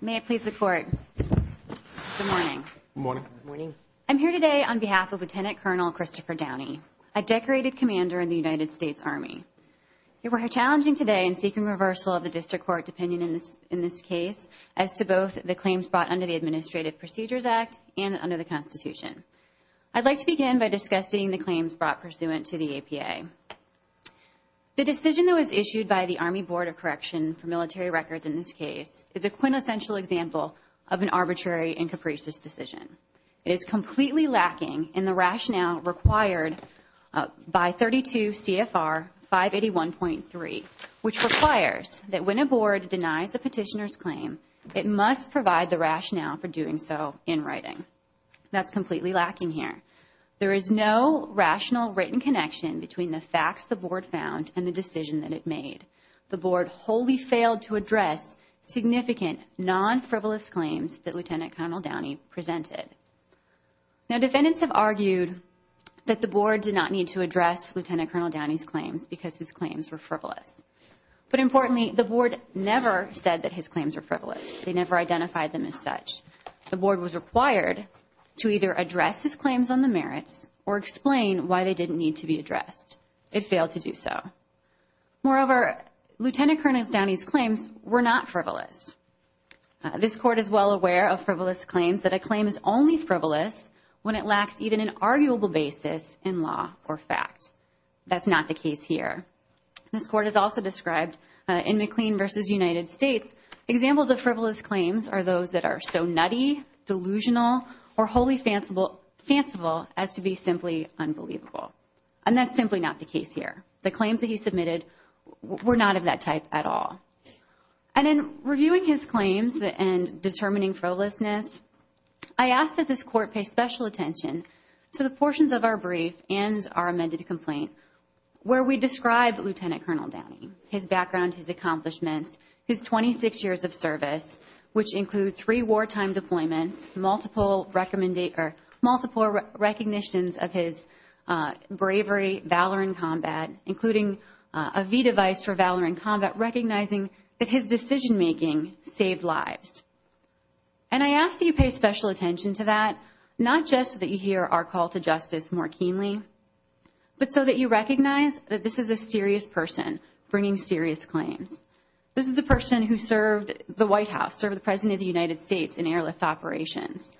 May it please the Court. Good morning. Good morning. I'm here today on behalf of Lieutenant Colonel Christopher Downey, a decorated commander in the United States Army. You will hear challenging today in seeking reversal of the district court opinion in this case as to both the claims brought under the Administrative Procedures Act and under the Constitution. I'd like to begin by discussing the claims brought pursuant to the APA. The decision that was issued by the Army Board of Correction for military records in this case is a quintessential example of an arbitrary and capricious decision. It is completely lacking in the rationale required by 32 CFR 581.3, which requires that when a board denies a petitioner's claim, it must provide the rationale for doing so in writing. That's completely lacking here. There is no rationale. The board wholly failed to address significant non-frivolous claims that Lieutenant Colonel Downey presented. Now, defendants have argued that the board did not need to address Lieutenant Colonel Downey's claims because his claims were frivolous. But importantly, the board never said that his claims were frivolous. They never identified them as such. The board was required to either address his claims on the merits or explain why they didn't need to be addressed. It failed to do so. Moreover, Lieutenant Colonel Downey's claims were not frivolous. This court is well aware of frivolous claims that a claim is only frivolous when it lacks even an arguable basis in law or fact. That's not the case here. This court is also described in McLean v. United States. Examples of frivolous claims are those that are so nutty, delusional, or wholly fanciful as to be simply unbelievable. And that's simply not the case here. The claims that he submitted were not of that type at all. And in reviewing his claims and determining frivolousness, I ask that this court pay special attention to the portions of our brief and our amended complaint where we describe Lieutenant Colonel Downey, his background, his accomplishments, his 26 years of service, which include three wartime deployments, multiple recognitions of his bravery, valor in combat, including a V device for valor in combat, recognizing that his decision making saved lives. And I ask that you pay special attention to that, not just so that you hear our call to justice more keenly, but so that you recognize that this is a serious person bringing serious claims. This is a person who served the White House, served the President of the United States in airlift operations.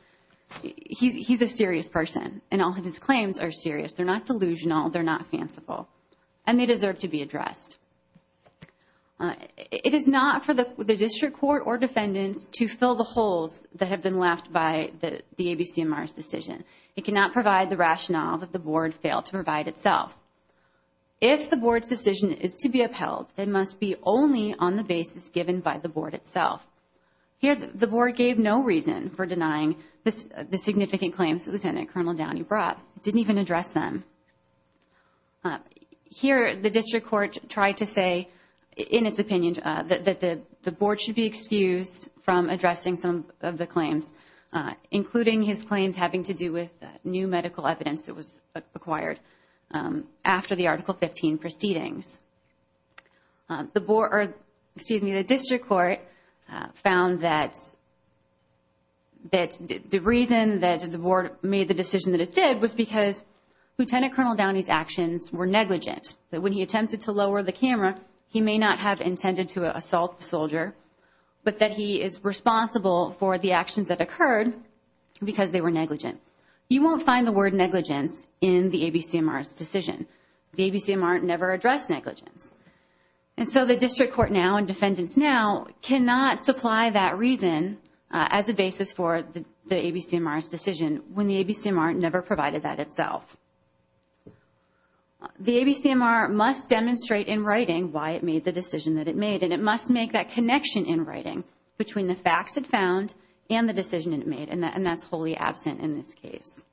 He's a serious person, and all of his claims are serious. They're not delusional. They're not fanciful. And they deserve to be addressed. It is not for the district court or defendants to fill the holes that have been left by the ABCMR's decision. It cannot provide the rationale that the board failed to provide itself. If the board's decision is to be upheld, it must be only on the basis given by the board itself. Here, the board gave no reason for denying the significant claims that Lieutenant Colonel Downey brought. It didn't even address them. Here, the district court tried to say, in its opinion, that the board should be excused from addressing some of the claims, including his claims having to do with new medical evidence that was acquired after the Article 15 proceedings. The board, or excuse me, the district court found that the reason that the board made the decision that it did was because Lieutenant Colonel Downey's actions were negligent. That when he attempted to lower the camera, he may not have intended to assault the soldier, but that he is responsible for the actions that occurred because they were negligent. You won't find the word negligence in the ABCMR's decision. The ABCMR never addressed negligence. And so the district court now and defendants now cannot supply that reason as a basis for the ABCMR's decision when the ABCMR never provided that itself. The ABCMR must demonstrate in writing why it made the decision that it made, and it must make that connection in writing between the facts it found and the decision it made, and that's wholly absent in this case.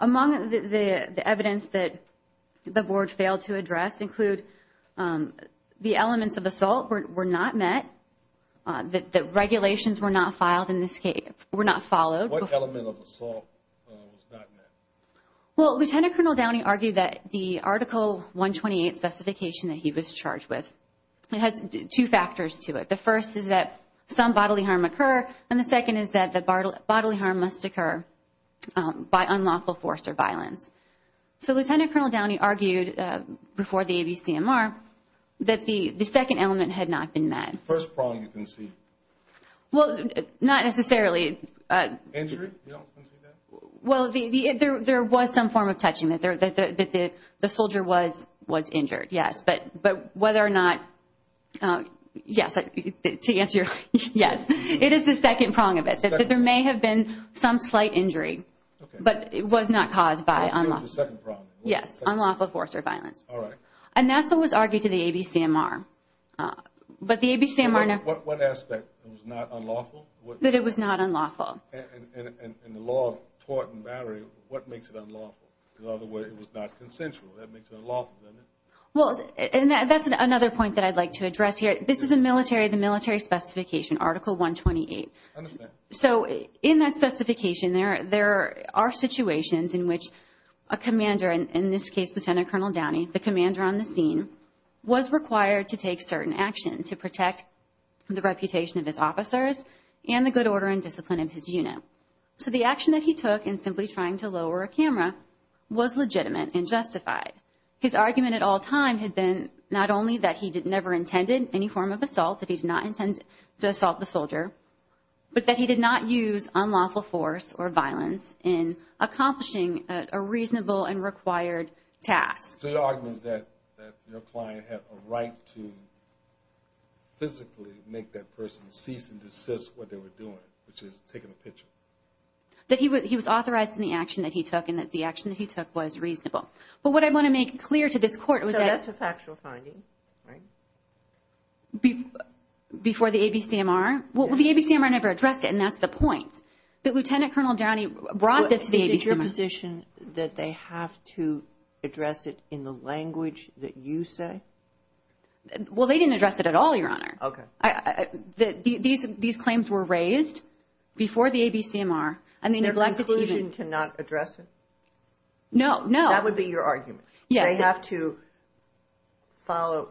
Among the evidence that the board failed to address include the elements of assault were not met, the regulations were not filed in this case, were not followed. What element of assault was not met? Well, Lieutenant Colonel Downey argued that the Article 128 specification that he was charged with, it has two factors to it. The first is that some bodily harm occur, and the second is that the bodily harm must occur by unlawful force or violence. So Lieutenant Colonel Downey argued before the ABCMR that the second element had not been met. The first prong you can see. Well, not necessarily. Injury? You don't see that? Well, there was some form of touching, that the soldier was injured, yes. But whether or not, yes, to answer your, yes. It is the second prong of it, that there may have been some slight injury, but it was not caused by unlawful force or violence. And that's what was argued to the ABCMR. But the ABCMR... What aspect was not unlawful? That it was not unlawful. In the law of tort and battery, what makes it unlawful? In other words, it was not consensual. That makes it unlawful, doesn't it? Well, and that's another point that I'd like to address here. This is the military specification, Article 128. I understand. So in that specification, there are situations in which a commander, in this case, Lieutenant Colonel Downey, the commander on the scene, was required to take certain action to protect the reputation of his officers and the good order and discipline of his unit. So the action that he took in simply trying to lower a camera was legitimate and justified. His argument at all time had been not only that he never intended any form of assault, that he did not intend to assault the soldier, but that he did not use unlawful force or violence in accomplishing a reasonable and required task. So your argument is that your client had a right to physically make that person cease and desist what they were doing, which is taking a picture. That he was authorized in the action that he took and that the action that he took was reasonable. But what I want to make clear to this Court was that... So that's a factual finding, right? Before the ABCMR? Well, the ABCMR never addressed it, and that's the point. That Lieutenant Colonel Downey brought this to the ABCMR. Is it your position that they have to address it in the language that you say? Well, they didn't address it at all, Your Honor. Okay. These claims were raised before the ABCMR, and they neglected to even... Their conclusion to not address it? No, no. That would be your argument? Yes. That they have to follow...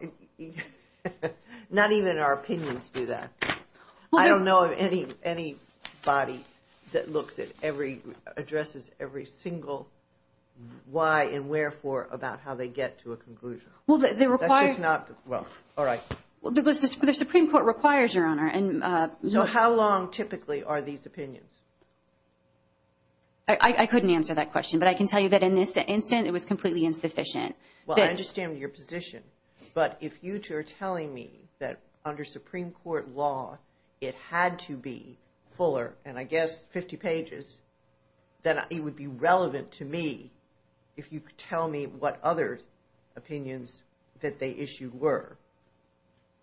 Not even our opinions do that. I don't know of any body that looks at every... Addresses every single why and wherefore about how they get to a conclusion. Well, they require... That's just not... Well, all right. The Supreme Court requires, Your Honor, and... So how long typically are these opinions? I couldn't answer that I understand your position, but if you two are telling me that under Supreme Court law, it had to be fuller, and I guess 50 pages, that it would be relevant to me if you could tell me what other opinions that they issued were.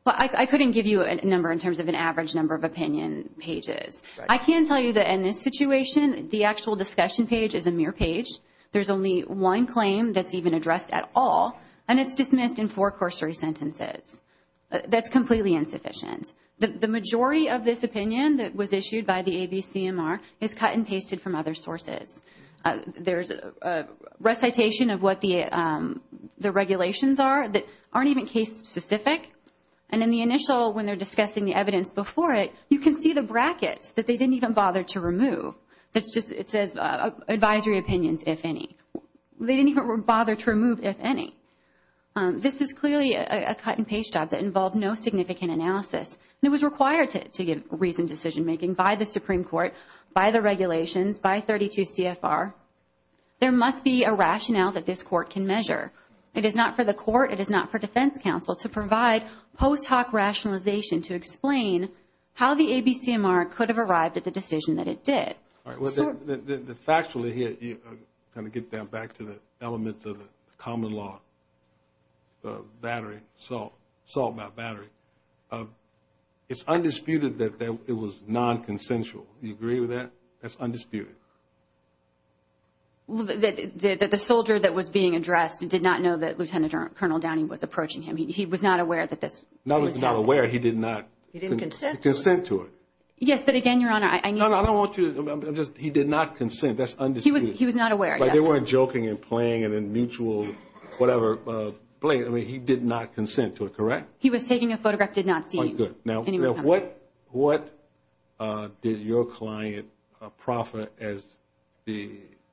Well, I couldn't give you a number in terms of an average number of opinion pages. Right. I can tell you that in this situation, the actual discussion page is a mere page. There's only one claim that's even addressed at all, and it's dismissed in four cursory sentences. That's completely insufficient. The majority of this opinion that was issued by the ABCMR is cut and pasted from other sources. There's a recitation of what the regulations are that aren't even case-specific, and in the initial, when they're discussing the evidence before it, you can see the brackets that they didn't even bother to remove. It says advisory opinions, if any. They didn't even bother to remove if any. This is clearly a cut-and-paste job that involved no significant analysis, and it was required to give reasoned decision-making by the Supreme Court, by the regulations, by 32 CFR. There must be a rationale that this Court can measure. It is not for the Court. It is not for defense counsel to provide post-hoc rationalization to explain how the ABCMR could have arrived at the decision that it did. All right. Factually, here, to kind of get back to the elements of the common law, the battery, assault by battery, it's undisputed that it was non-consensual. Do you agree with that? That's undisputed. The soldier that was being addressed did not know that Lieutenant Colonel Downing was approaching him. He was not aware that this was happening. He was not aware. He did not consent to it. Yes, but again, Your Honor, I need to... No, no. I don't want you to... He did not consent. That's undisputed. He was not aware. But they weren't joking and playing and in mutual whatever play. I mean, he did not consent to it, correct? He was taking a photograph. Did not see him. Oh, good. Now, what did your client profit as the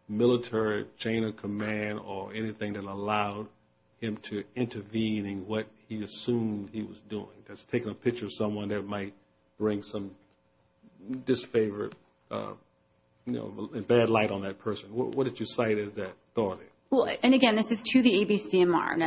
military chain of command or anything that allowed him to intervene in what he assumed he was doing? That's taking a picture of someone that might bring some disfavor, bad light on that person. What did you cite as that authority? Well, and again, this is to the ABCMR,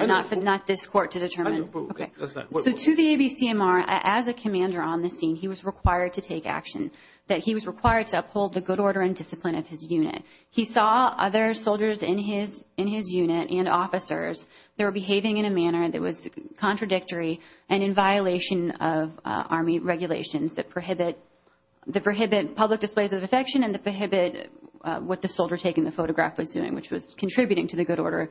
not this court to determine... Okay. That's not... So to the ABCMR, as a commander on the scene, he was required to take action, that he was required to uphold the good order and discipline of his unit. He saw other soldiers in his unit and officers that were behaving in a manner that was contradictory and in violation of army regulations that prohibit public displays of affection and that prohibit what the soldier taking the photograph was doing, which was contributing to the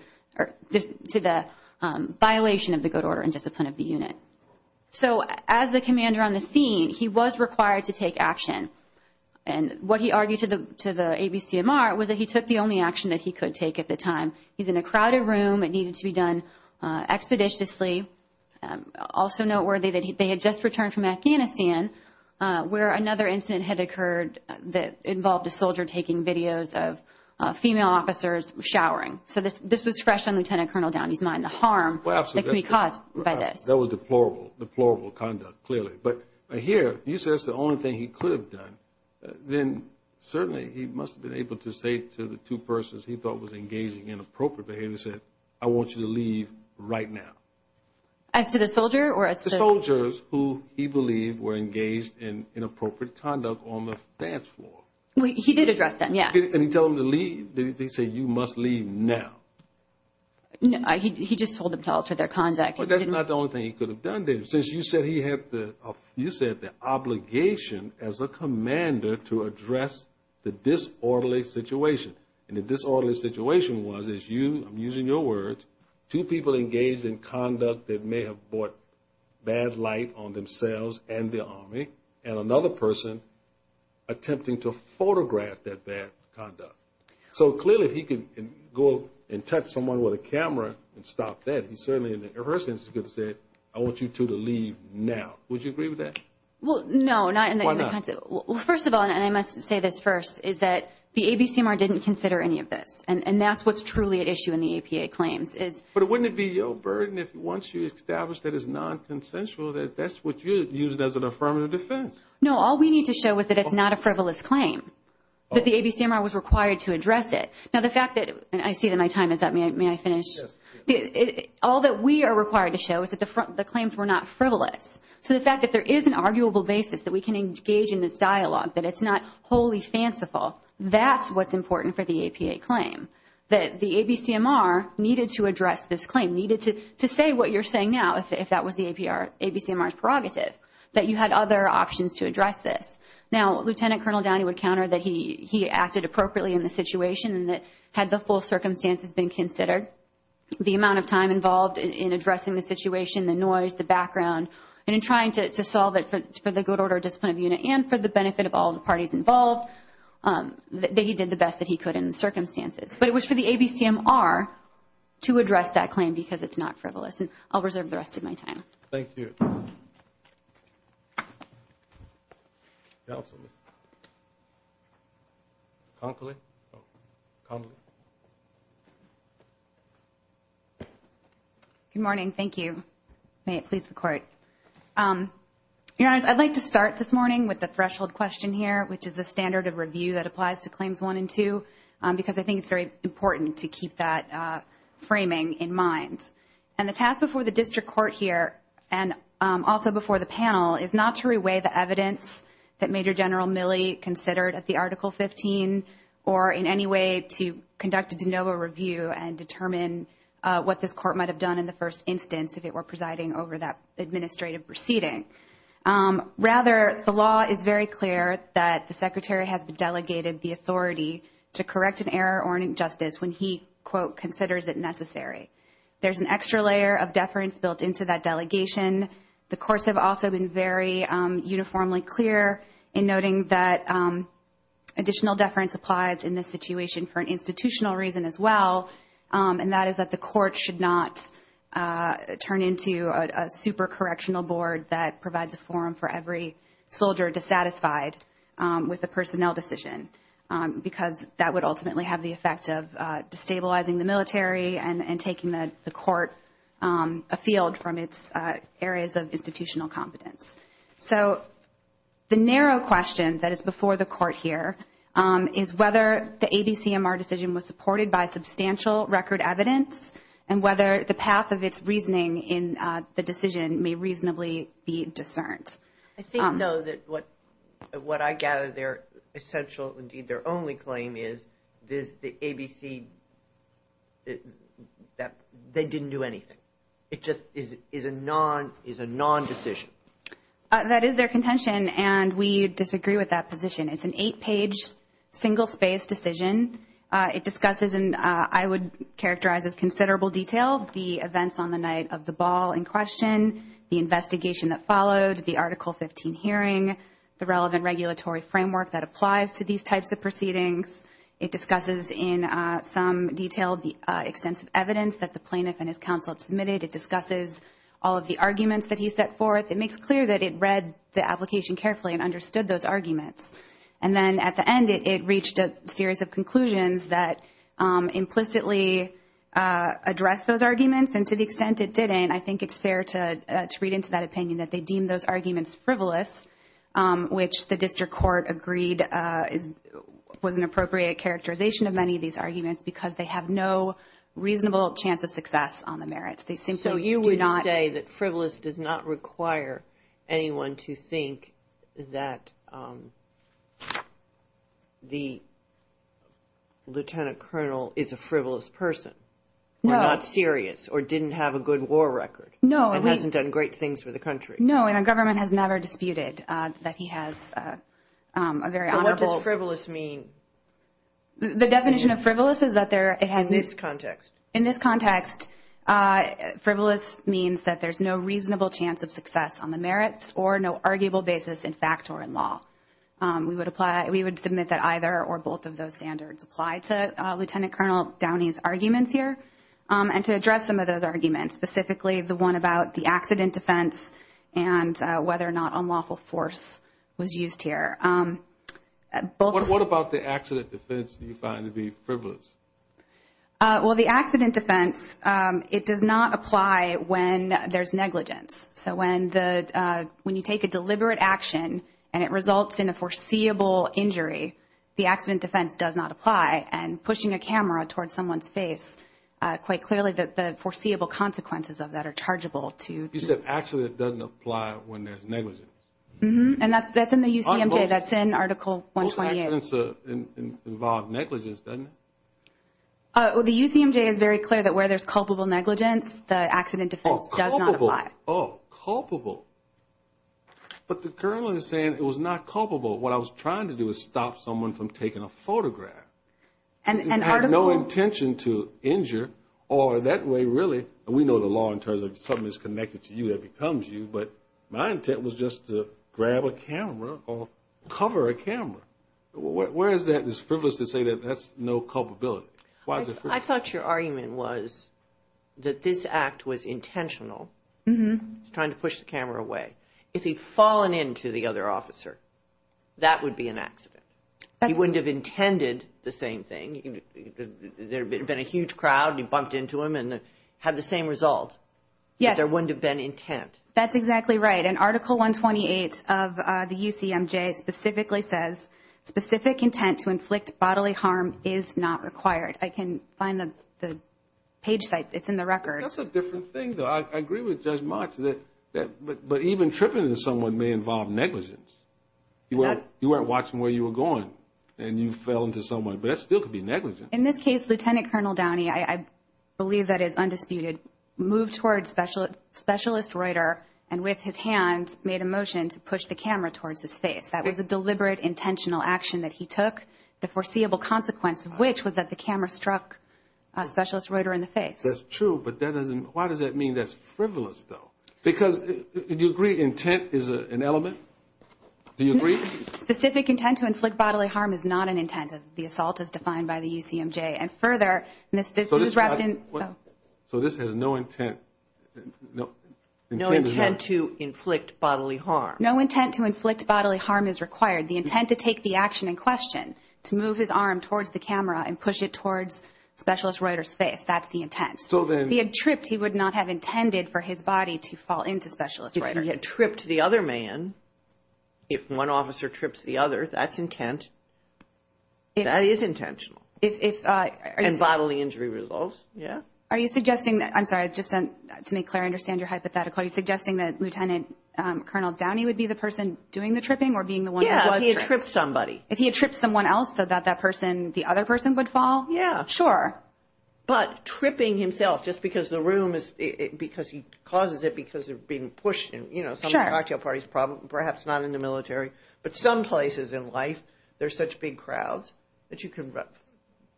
violation of the good order and discipline of the unit. So as the commander on the scene, he was required to take action. And what he argued to the ABCMR was that he took the only action that he could take at the time. He's in a crowded room, it needed to be done expeditiously. Also noteworthy that they had just returned from Afghanistan, where another incident had occurred that involved a soldier taking videos of female officers showering. So this was fresh on Lieutenant Colonel Downey's mind, the harm that could be caused by this. That was deplorable, deplorable conduct, clearly. But here, you said it's the only thing he must have been able to say to the two persons he thought was engaging in inappropriate behavior. He said, I want you to leave right now. As to the soldier or a... The soldiers who he believed were engaged in inappropriate conduct on the dance floor. He did address them, yes. Did he tell them to leave? Did he say, you must leave now? No, he just told them to alter their conduct. But that's not the only thing he could have done there. Since you said he had the obligation as a commander to address the disorderly situation. And the disorderly situation was, as you, I'm using your words, two people engaged in conduct that may have brought bad light on themselves and the Army, and another person attempting to photograph that bad conduct. So clearly if he could go and touch someone with a camera and stop that, he certainly in the rehearsals could have said, I want you two to leave now. Would you agree with that? Well, no. Why not? First of all, and I must say this first, is that the ABCMR didn't consider any of this. And that's what's truly at issue in the APA claims. But wouldn't it be your burden if once you establish that it's non-consensual, that that's what you used as an affirmative defense? No, all we need to show is that it's not a frivolous claim. That the ABCMR was required to address it. Now the fact that, and I see that my time is up. May I finish? Yes. All that we are required to show is that the claims were not frivolous. So the fact that there is an arguable basis that we can engage in this dialogue, that it's not wholly fanciful, that's what's important for the APA claim. That the ABCMR needed to address this claim, needed to say what you're saying now, if that was the ABCMR's prerogative, that you had other options to address this. Now, Lieutenant Colonel Downey would counter that he acted appropriately in the situation and that had the full circumstances been considered, the amount of time involved in addressing the situation, the noise, the background, and in trying to solve it for the good order of discipline of the unit and for the benefit of all the parties involved, that he did the best that he could in the circumstances. But it was for the ABCMR to address that claim because it's not frivolous. And I'll reserve the rest of my time. Thank you. Counsel, Ms. Conkley? Good morning. Thank you. May it please the Court. Your Honors, I'd like to start this morning with the threshold question here, which is the standard of review that applies to Claims 1 and 2 because I think it's very important to keep that framing in mind. And the task before the District Court here and also before the panel is not to reweigh the evidence that Major General Milley considered at the Article 15 or in any way to conduct a de novo review and determine what this Court might have done in the first instance if it were presiding over that administrative proceeding. Rather, the law is very clear that the Secretary has delegated the authority to correct an error or an injustice when he, quote, considers it necessary. There's an extra layer of deference built into that delegation. The courts have also been very uniformly clear in noting that additional deference applies in this situation for an institutional reason as well, and that is that the court should not turn into a super-correctional board that provides a forum for every soldier dissatisfied with a personnel decision because that would ultimately have the effect of destabilizing the military and taking the court afield from its areas of institutional competence. So the narrow question that is before the Court here is whether the ABCMR decision was supported by substantial record evidence and whether the path of its reasoning in the decision may reasonably be discerned. I think, though, that what I gather their essential, indeed their only claim is, is the ABC, that they didn't do anything. It just is a non-decision. That is their contention, and we disagree with that position. It's an eight-page, single-space decision. It discusses in, I would characterize as considerable detail, the events on the night of the ball in question, the investigation that followed, the Article 15 hearing, the relevant regulatory framework that applies to these types of proceedings. It discusses in some detail the extensive evidence that the plaintiff and his counsel submitted. It discusses all of the arguments that he set forth. It makes clear that it read the application carefully and understood those arguments, and then at the end it reached a series of conclusions that implicitly addressed those arguments, and to the extent it didn't, I think it's fair to read into that opinion that they deemed those arguments frivolous, which the district court agreed was an appropriate characterization of many of these arguments because they have no reasonable chance of success on the merits. They simply do not. So you would say that frivolous does not require anyone to think that the lieutenant colonel is a frivolous person. No. Or not serious, or didn't have a good war record. No. And hasn't done great things for the country. No, and our government has never disputed that he has a very honorable- So what does frivolous mean? The definition of frivolous is that there- In this context. In this context, frivolous means that there's no reasonable chance of success on the merits or no arguable basis in fact or in law. We would submit that either or both of those standards apply to Lieutenant Colonel Downey's arguments here, and to address some of those arguments, specifically the one about the accident defense and whether or not unlawful force was used here. What about the accident defense do you find to be frivolous? Well, the accident defense, it does not apply when there's negligence. So when you take a deliberate action and it results in a foreseeable injury, the accident defense does not apply, and pushing a camera towards someone's face, quite clearly the foreseeable consequences of that are chargeable to- You said actually it doesn't apply when there's negligence. Mm-hmm, and that's in the UCMJ. That's in Article 128. Most accidents involve negligence, doesn't it? The UCMJ is very clear that where there's culpable negligence, the accident defense does not apply. But the colonel is saying it was not culpable. What I was trying to do was stop someone from taking a photograph. And Article- He had no intention to injure, or that way, really, and we know the law in terms of something that's connected to you that becomes you, but my intent was just to grab a camera or cover a camera. Where is that? It's frivolous to say that that's no culpability. I thought your argument was that this act was intentional. Mm-hmm. He's trying to push the camera away. If he'd fallen into the other officer, that would be an accident. He wouldn't have intended the same thing. There would have been a huge crowd, and you bumped into him and had the same result. Yes. But there wouldn't have been intent. That's exactly right. And Article 128 of the UCMJ specifically says, specific intent to inflict bodily harm is not required. I can find the page site. It's in the record. That's a different thing, though. I agree with Judge March. But even tripping into someone may involve negligence. You weren't watching where you were going, and you fell into someone. But that still could be negligence. In this case, Lieutenant Colonel Downey, I believe that is undisputed, moved towards Specialist Reuter and, with his hands, made a motion to push the camera towards his face. That was a deliberate, intentional action that he took, the foreseeable consequence of which was that the camera struck Specialist Reuter in the face. That's true. But that doesn't – why does that mean that's frivolous, though? Because, do you agree intent is an element? Do you agree? Specific intent to inflict bodily harm is not an intent. The assault is defined by the UCMJ. And further, this was wrapped in – So this has no intent. No intent to inflict bodily harm. No intent to inflict bodily harm is required. The intent to take the action in question, to move his arm towards the camera and push it towards Specialist Reuter's face, that's the intent. If he had tripped, he would not have intended for his body to fall into Specialist Reuter's. If he had tripped the other man, if one officer trips the other, that's intent. That is intentional. If – And bodily injury results, yeah. Are you suggesting – I'm sorry, just to make clear, I understand your hypothetical. Are you suggesting that Lieutenant Colonel Downey would be the person doing the tripping or being the one who was tripped? Yeah, if he had tripped somebody. If he had tripped someone else so that that person, the other person, would fall? Yeah. Sure. But tripping himself, just because the room is – because he causes it because of being pushed in, you know, some cocktail parties, perhaps not in the military, but some places in life, there's such big crowds that you can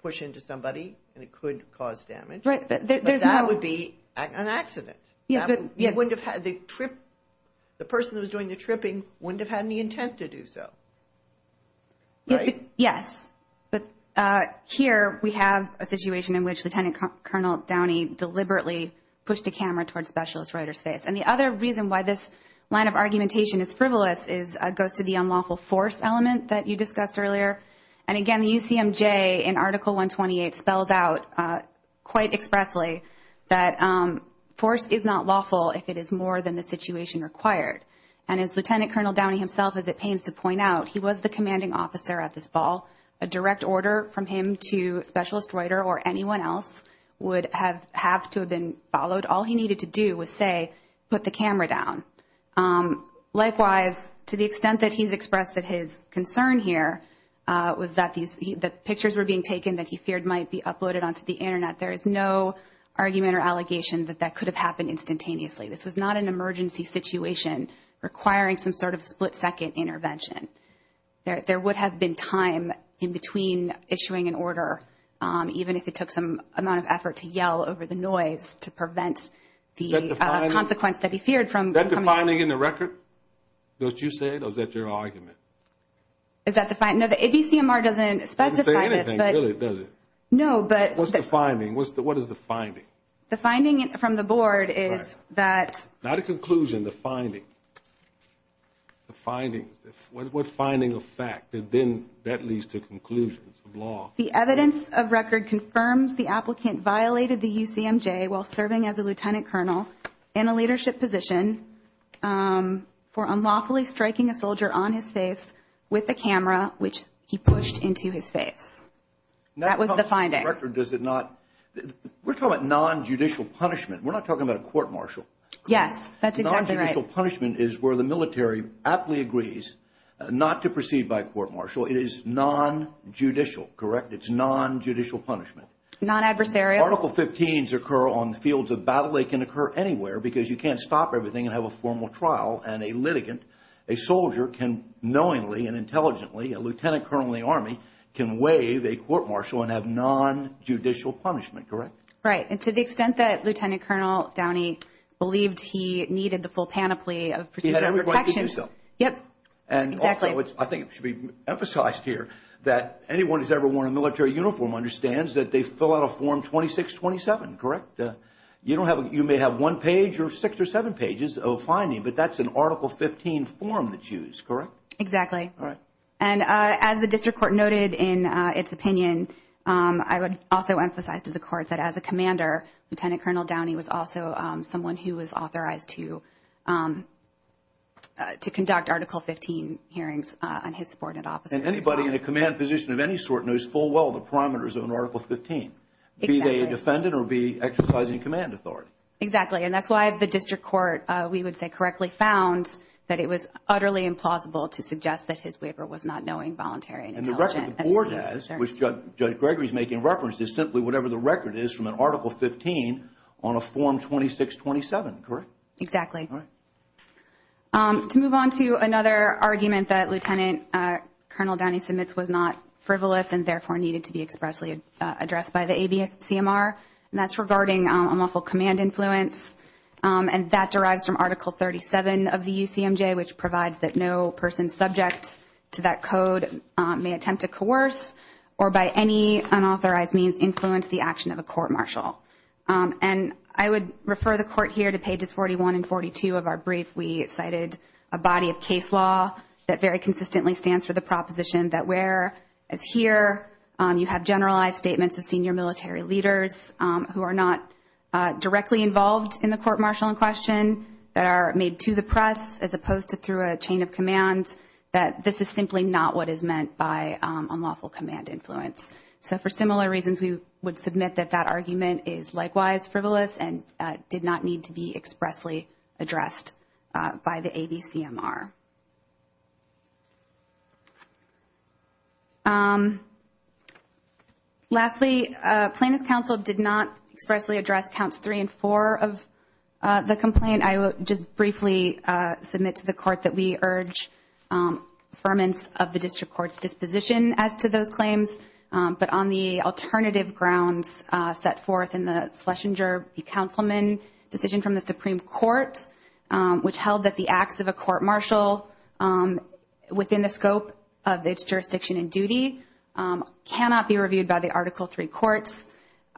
push into somebody and it could cause damage. Right, but there's no – But that would be an accident. Yes, but – You wouldn't have had – the person who was doing the tripping wouldn't have had any intent to do so. Right? Yes. But here we have a situation in which Lieutenant Colonel Downey deliberately pushed a camera towards Specialist Reuter's face. And the other reason why this line of argumentation is frivolous is – goes to the unlawful force element that you discussed earlier. And, again, the UCMJ in Article 128 spells out quite expressly that force is not lawful if it is more than the situation required. And as Lieutenant Colonel Downey himself, as it pains to point out, he was the commanding officer at this ball. A direct order from him to Specialist Reuter or anyone else would have to have been followed. All he needed to do was say, put the camera down. Likewise, to the extent that he's expressed that his concern here was that these – that pictures were being taken that he feared might be uploaded onto the Internet, there is no argument or allegation that that could have happened instantaneously. This was not an emergency situation requiring some sort of split-second intervention. There would have been time in between issuing an order, even if it took some amount of effort to yell over the noise to prevent the consequence that he feared. Is that the finding in the record, what you said, or is that your argument? Is that the – no, the ABCMR doesn't specify this. It doesn't say anything, really, does it? What's the finding? What is the finding? The finding from the board is that – Not a conclusion, the finding. The findings. What finding of fact? Then that leads to conclusions of law. The evidence of record confirms the applicant violated the UCMJ while serving as a lieutenant colonel in a leadership position for unlawfully striking a soldier on his face with a camera, which he pushed into his face. That was the finding. We're talking about non-judicial punishment. We're not talking about a court-martial. Yes, that's exactly right. Non-judicial punishment is where the military aptly agrees not to proceed by court-martial. It is non-judicial, correct? It's non-judicial punishment. Non-adversarial. Article 15s occur on fields of battle. They can occur anywhere because you can't stop everything and have a formal trial and a litigant, a soldier, can knowingly and intelligently, a lieutenant colonel in the Army, can waive a court-martial and have non-judicial punishment, correct? Right. And to the extent that Lieutenant Colonel Downey believed he needed the full panoply of procedural protection. He had every right to do so. Yep, exactly. And also, which I think should be emphasized here, that anyone who's ever worn a military uniform understands that they fill out a Form 2627, correct? You may have one page or six or seven pages of finding, but that's an Article 15 form that's used, correct? Exactly. All right. And as the district court noted in its opinion, I would also emphasize to the court that as a commander, Lieutenant Colonel Downey was also someone who was authorized to conduct Article 15 hearings on his subordinate officers. And anybody in a command position of any sort knows full well the parameters of an Article 15, be they a defendant or be exercising command authority. Exactly. And that's why the district court, we would say correctly, found that it was utterly implausible to suggest that his waiver was not knowing, voluntary, and intelligent. And the record the board has, which Judge Gregory is making reference to, is simply whatever the record is from an Article 15 on a Form 2627, correct? Exactly. All right. To move on to another argument that Lieutenant Colonel Downey submits was not frivolous and therefore needed to be expressly addressed by the ABCMR, and that's regarding unlawful command influence. And that derives from Article 37 of the UCMJ, which provides that no person subject to that code may attempt to coerce or by any unauthorized means influence the action of a court martial. And I would refer the court here to pages 41 and 42 of our brief. We cited a body of case law that very consistently stands for the proposition that where, as here, you have generalized statements of senior military leaders who are not directly involved in the court martial in question that are made to the press as opposed to through a chain of command, that this is simply not what is meant by unlawful command influence. So for similar reasons, we would submit that that argument is likewise frivolous and did not need to be expressly addressed by the ABCMR. Lastly, Plaintiffs' Counsel did not expressly address counts three and four of the complaint. I will just briefly submit to the court that we urge affirmance of the district court's disposition as to those claims, but on the alternative grounds set forth in the Schlesinger, the Councilman decision from the Supreme Court, which held that the acts of a court martial within the scope of its jurisdiction and duty cannot be reviewed by the Article III courts.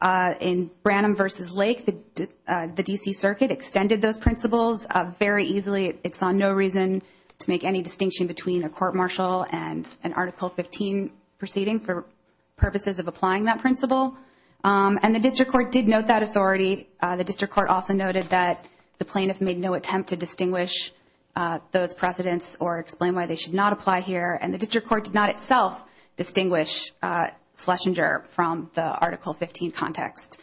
In Branham v. Lake, the D.C. Circuit extended those principles very easily. It saw no reason to make any distinction between a court martial and an Article XV proceeding for purposes of applying that principle. And the district court did note that authority. The district court also noted that the plaintiff made no attempt to distinguish those precedents or explain why they should not apply here. And the district court did not itself distinguish Schlesinger from the Article XV context.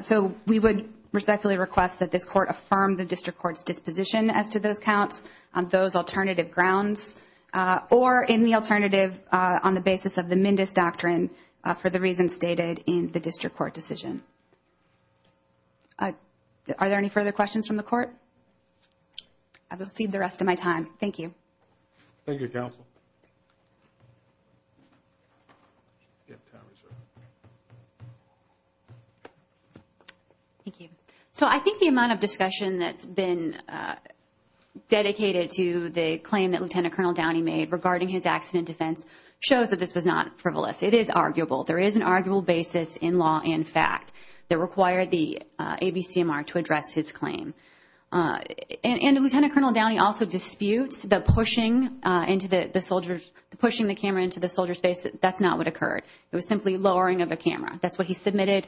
So we would respectfully request that this court affirm the district court's disposition as to those counts on those alternative grounds or in the alternative on the basis of the Mendes doctrine for the reasons stated in the district court decision. Are there any further questions from the court? I will cede the rest of my time. Thank you, Counsel. Thank you. So I think the amount of discussion that's been dedicated to the claim that Lieutenant Colonel Downey made regarding his accident defense shows that this was not frivolous. It is arguable. There is an arguable basis in law and fact that required the ABCMR to address his claim. And Lieutenant Colonel Downey also disputes the pushing the camera into the soldier's face. That's not what occurred. It was simply lowering of a camera. That's what he submitted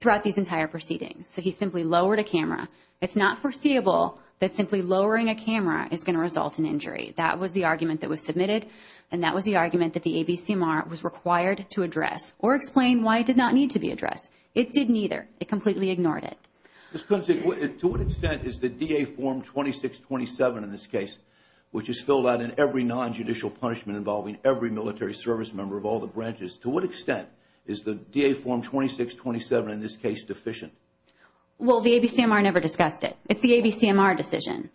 throughout these entire proceedings. So he simply lowered a camera. It's not foreseeable that simply lowering a camera is going to result in injury. That was the argument that was submitted, and that was the argument that the ABCMR was required to address or explain why it did not need to be addressed. It did neither. It completely ignored it. To what extent is the DA Form 2627 in this case, which is filled out in every nonjudicial punishment involving every military service member of all the branches, to what extent is the DA Form 2627 in this case deficient? Well, the ABCMR never discussed it. It's the ABCMR decision.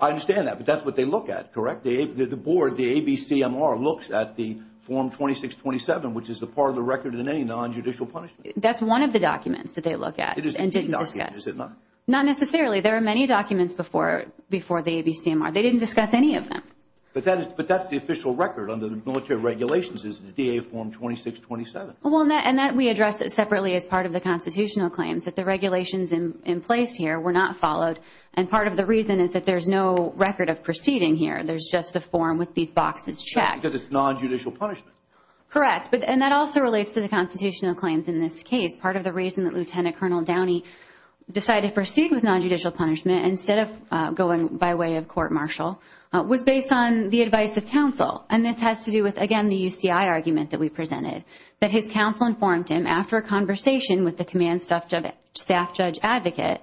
I understand that, but that's what they look at, correct? The board, the ABCMR, looks at the Form 2627, which is a part of the record in any nonjudicial punishment. That's one of the documents that they look at. And didn't discuss. Not necessarily. There are many documents before the ABCMR. They didn't discuss any of them. But that's the official record under the military regulations is the DA Form 2627. Well, and that we addressed separately as part of the constitutional claims, that the regulations in place here were not followed, and part of the reason is that there's no record of proceeding here. There's just a form with these boxes checked. Because it's nonjudicial punishment. Correct. And that also relates to the constitutional claims in this case. Part of the reason that Lieutenant Colonel Downey decided to proceed with nonjudicial punishment instead of going by way of court martial was based on the advice of counsel. And this has to do with, again, the UCI argument that we presented. That his counsel informed him after a conversation with the command staff judge advocate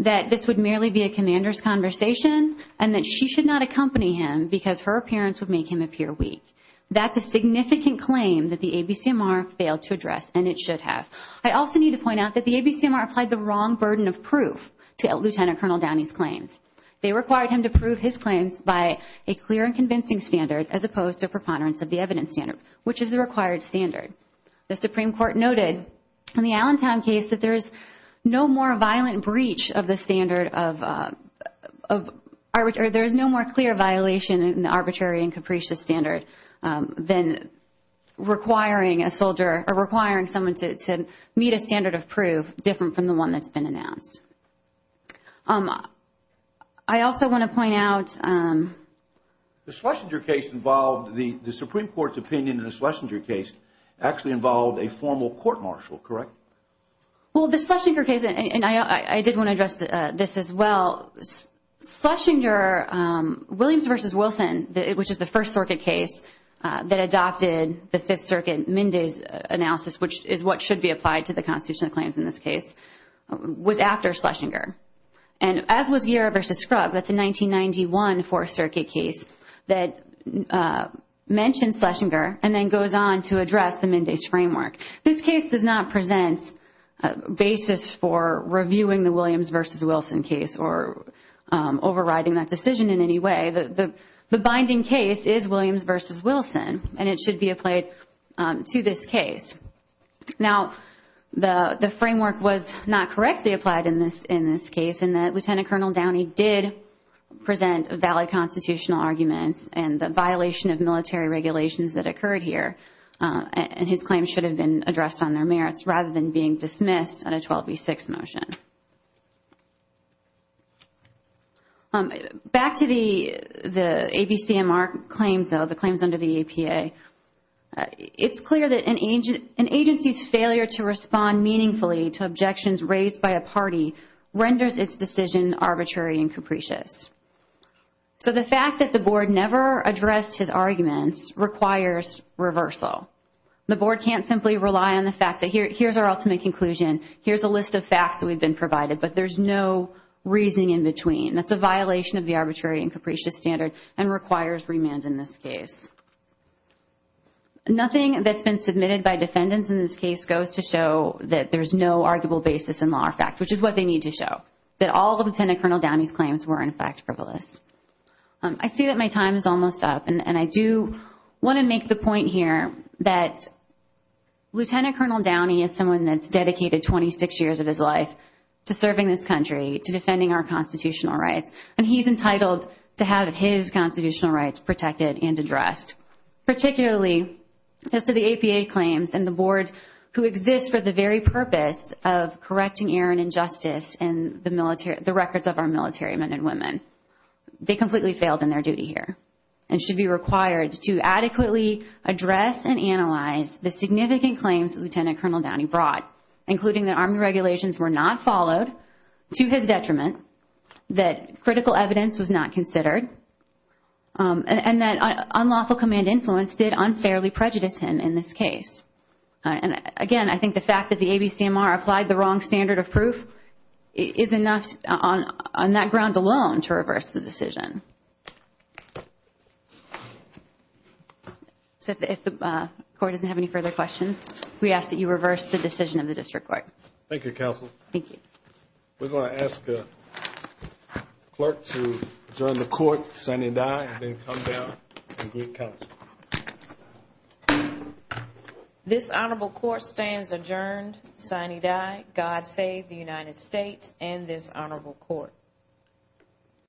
that this would merely be a commander's conversation and that she should not accompany him because her appearance would make him appear weak. That's a significant claim that the ABCMR failed to address, and it should have. I also need to point out that the ABCMR applied the wrong burden of proof to Lieutenant Colonel Downey's claims. They required him to prove his claims by a clear and convincing standard as opposed to a preponderance of the evidence standard, which is the required standard. The Supreme Court noted in the Allentown case that there's no more violent breach of the standard of – there's no more clear violation in the arbitrary and capricious standard than requiring a soldier – or requiring someone to meet a standard of proof different from the one that's been announced. I also want to point out – The Schlesinger case involved – the Supreme Court's opinion in the Schlesinger case actually involved a formal court martial, correct? Well, the Schlesinger case – and I did want to address this as well. Schlesinger – Williams v. Wilson, which is the First Circuit case that adopted the Fifth Circuit Minday's analysis, which is what should be applied to the constitutional claims in this case, was after Schlesinger. And as was Guerra v. Scruggs, that's a 1991 Fourth Circuit case that mentions Schlesinger and then goes on to address the Minday's framework. This case does not present a basis for reviewing the Williams v. Wilson case or overriding that decision in any way. The binding case is Williams v. Wilson, and it should be applied to this case. Now, the framework was not correctly applied in this case in that Lieutenant Colonel Downey did present valid constitutional arguments and the violation of military regulations that occurred here. And his claims should have been addressed on their merits rather than being dismissed on a 12v6 motion. Back to the ABCMR claims, though, the claims under the APA. It's clear that an agency's failure to respond meaningfully to objections raised by a party renders its decision arbitrary and capricious. So the fact that the board never addressed his arguments requires reversal. The board can't simply rely on the fact that here's our ultimate conclusion, here's a list of facts that we've been provided, but there's no reasoning in between. That's a violation of the arbitrary and capricious standard and requires remand in this case. Nothing that's been submitted by defendants in this case goes to show that there's no arguable basis in law or fact, which is what they need to show, that all of Lieutenant Colonel Downey's claims were, in fact, frivolous. I see that my time is almost up, and I do want to make the point here that Lieutenant Colonel Downey is someone that's dedicated 26 years of his life to serving this country, to defending our constitutional rights, and he's entitled to have his constitutional rights protected and addressed, particularly as to the APA claims and the board who exists for the very purpose of correcting error and injustice in the records of our military men and women. They completely failed in their duty here and should be required to adequately address and analyze the significant claims that Lieutenant Colonel Downey brought, including that Army regulations were not followed to his detriment, that critical evidence was not considered, and that unlawful command influence did unfairly prejudice him in this case. Again, I think the fact that the ABCMR applied the wrong standard of proof is enough on that ground alone to reverse the decision. If the Court doesn't have any further questions, we ask that you reverse the decision of the District Court. Thank you. We're going to ask the Clerk to adjourn the Court, sign and die, and then come down and give counsel. This Honorable Court stands adjourned, sign and die. God save the United States and this Honorable Court.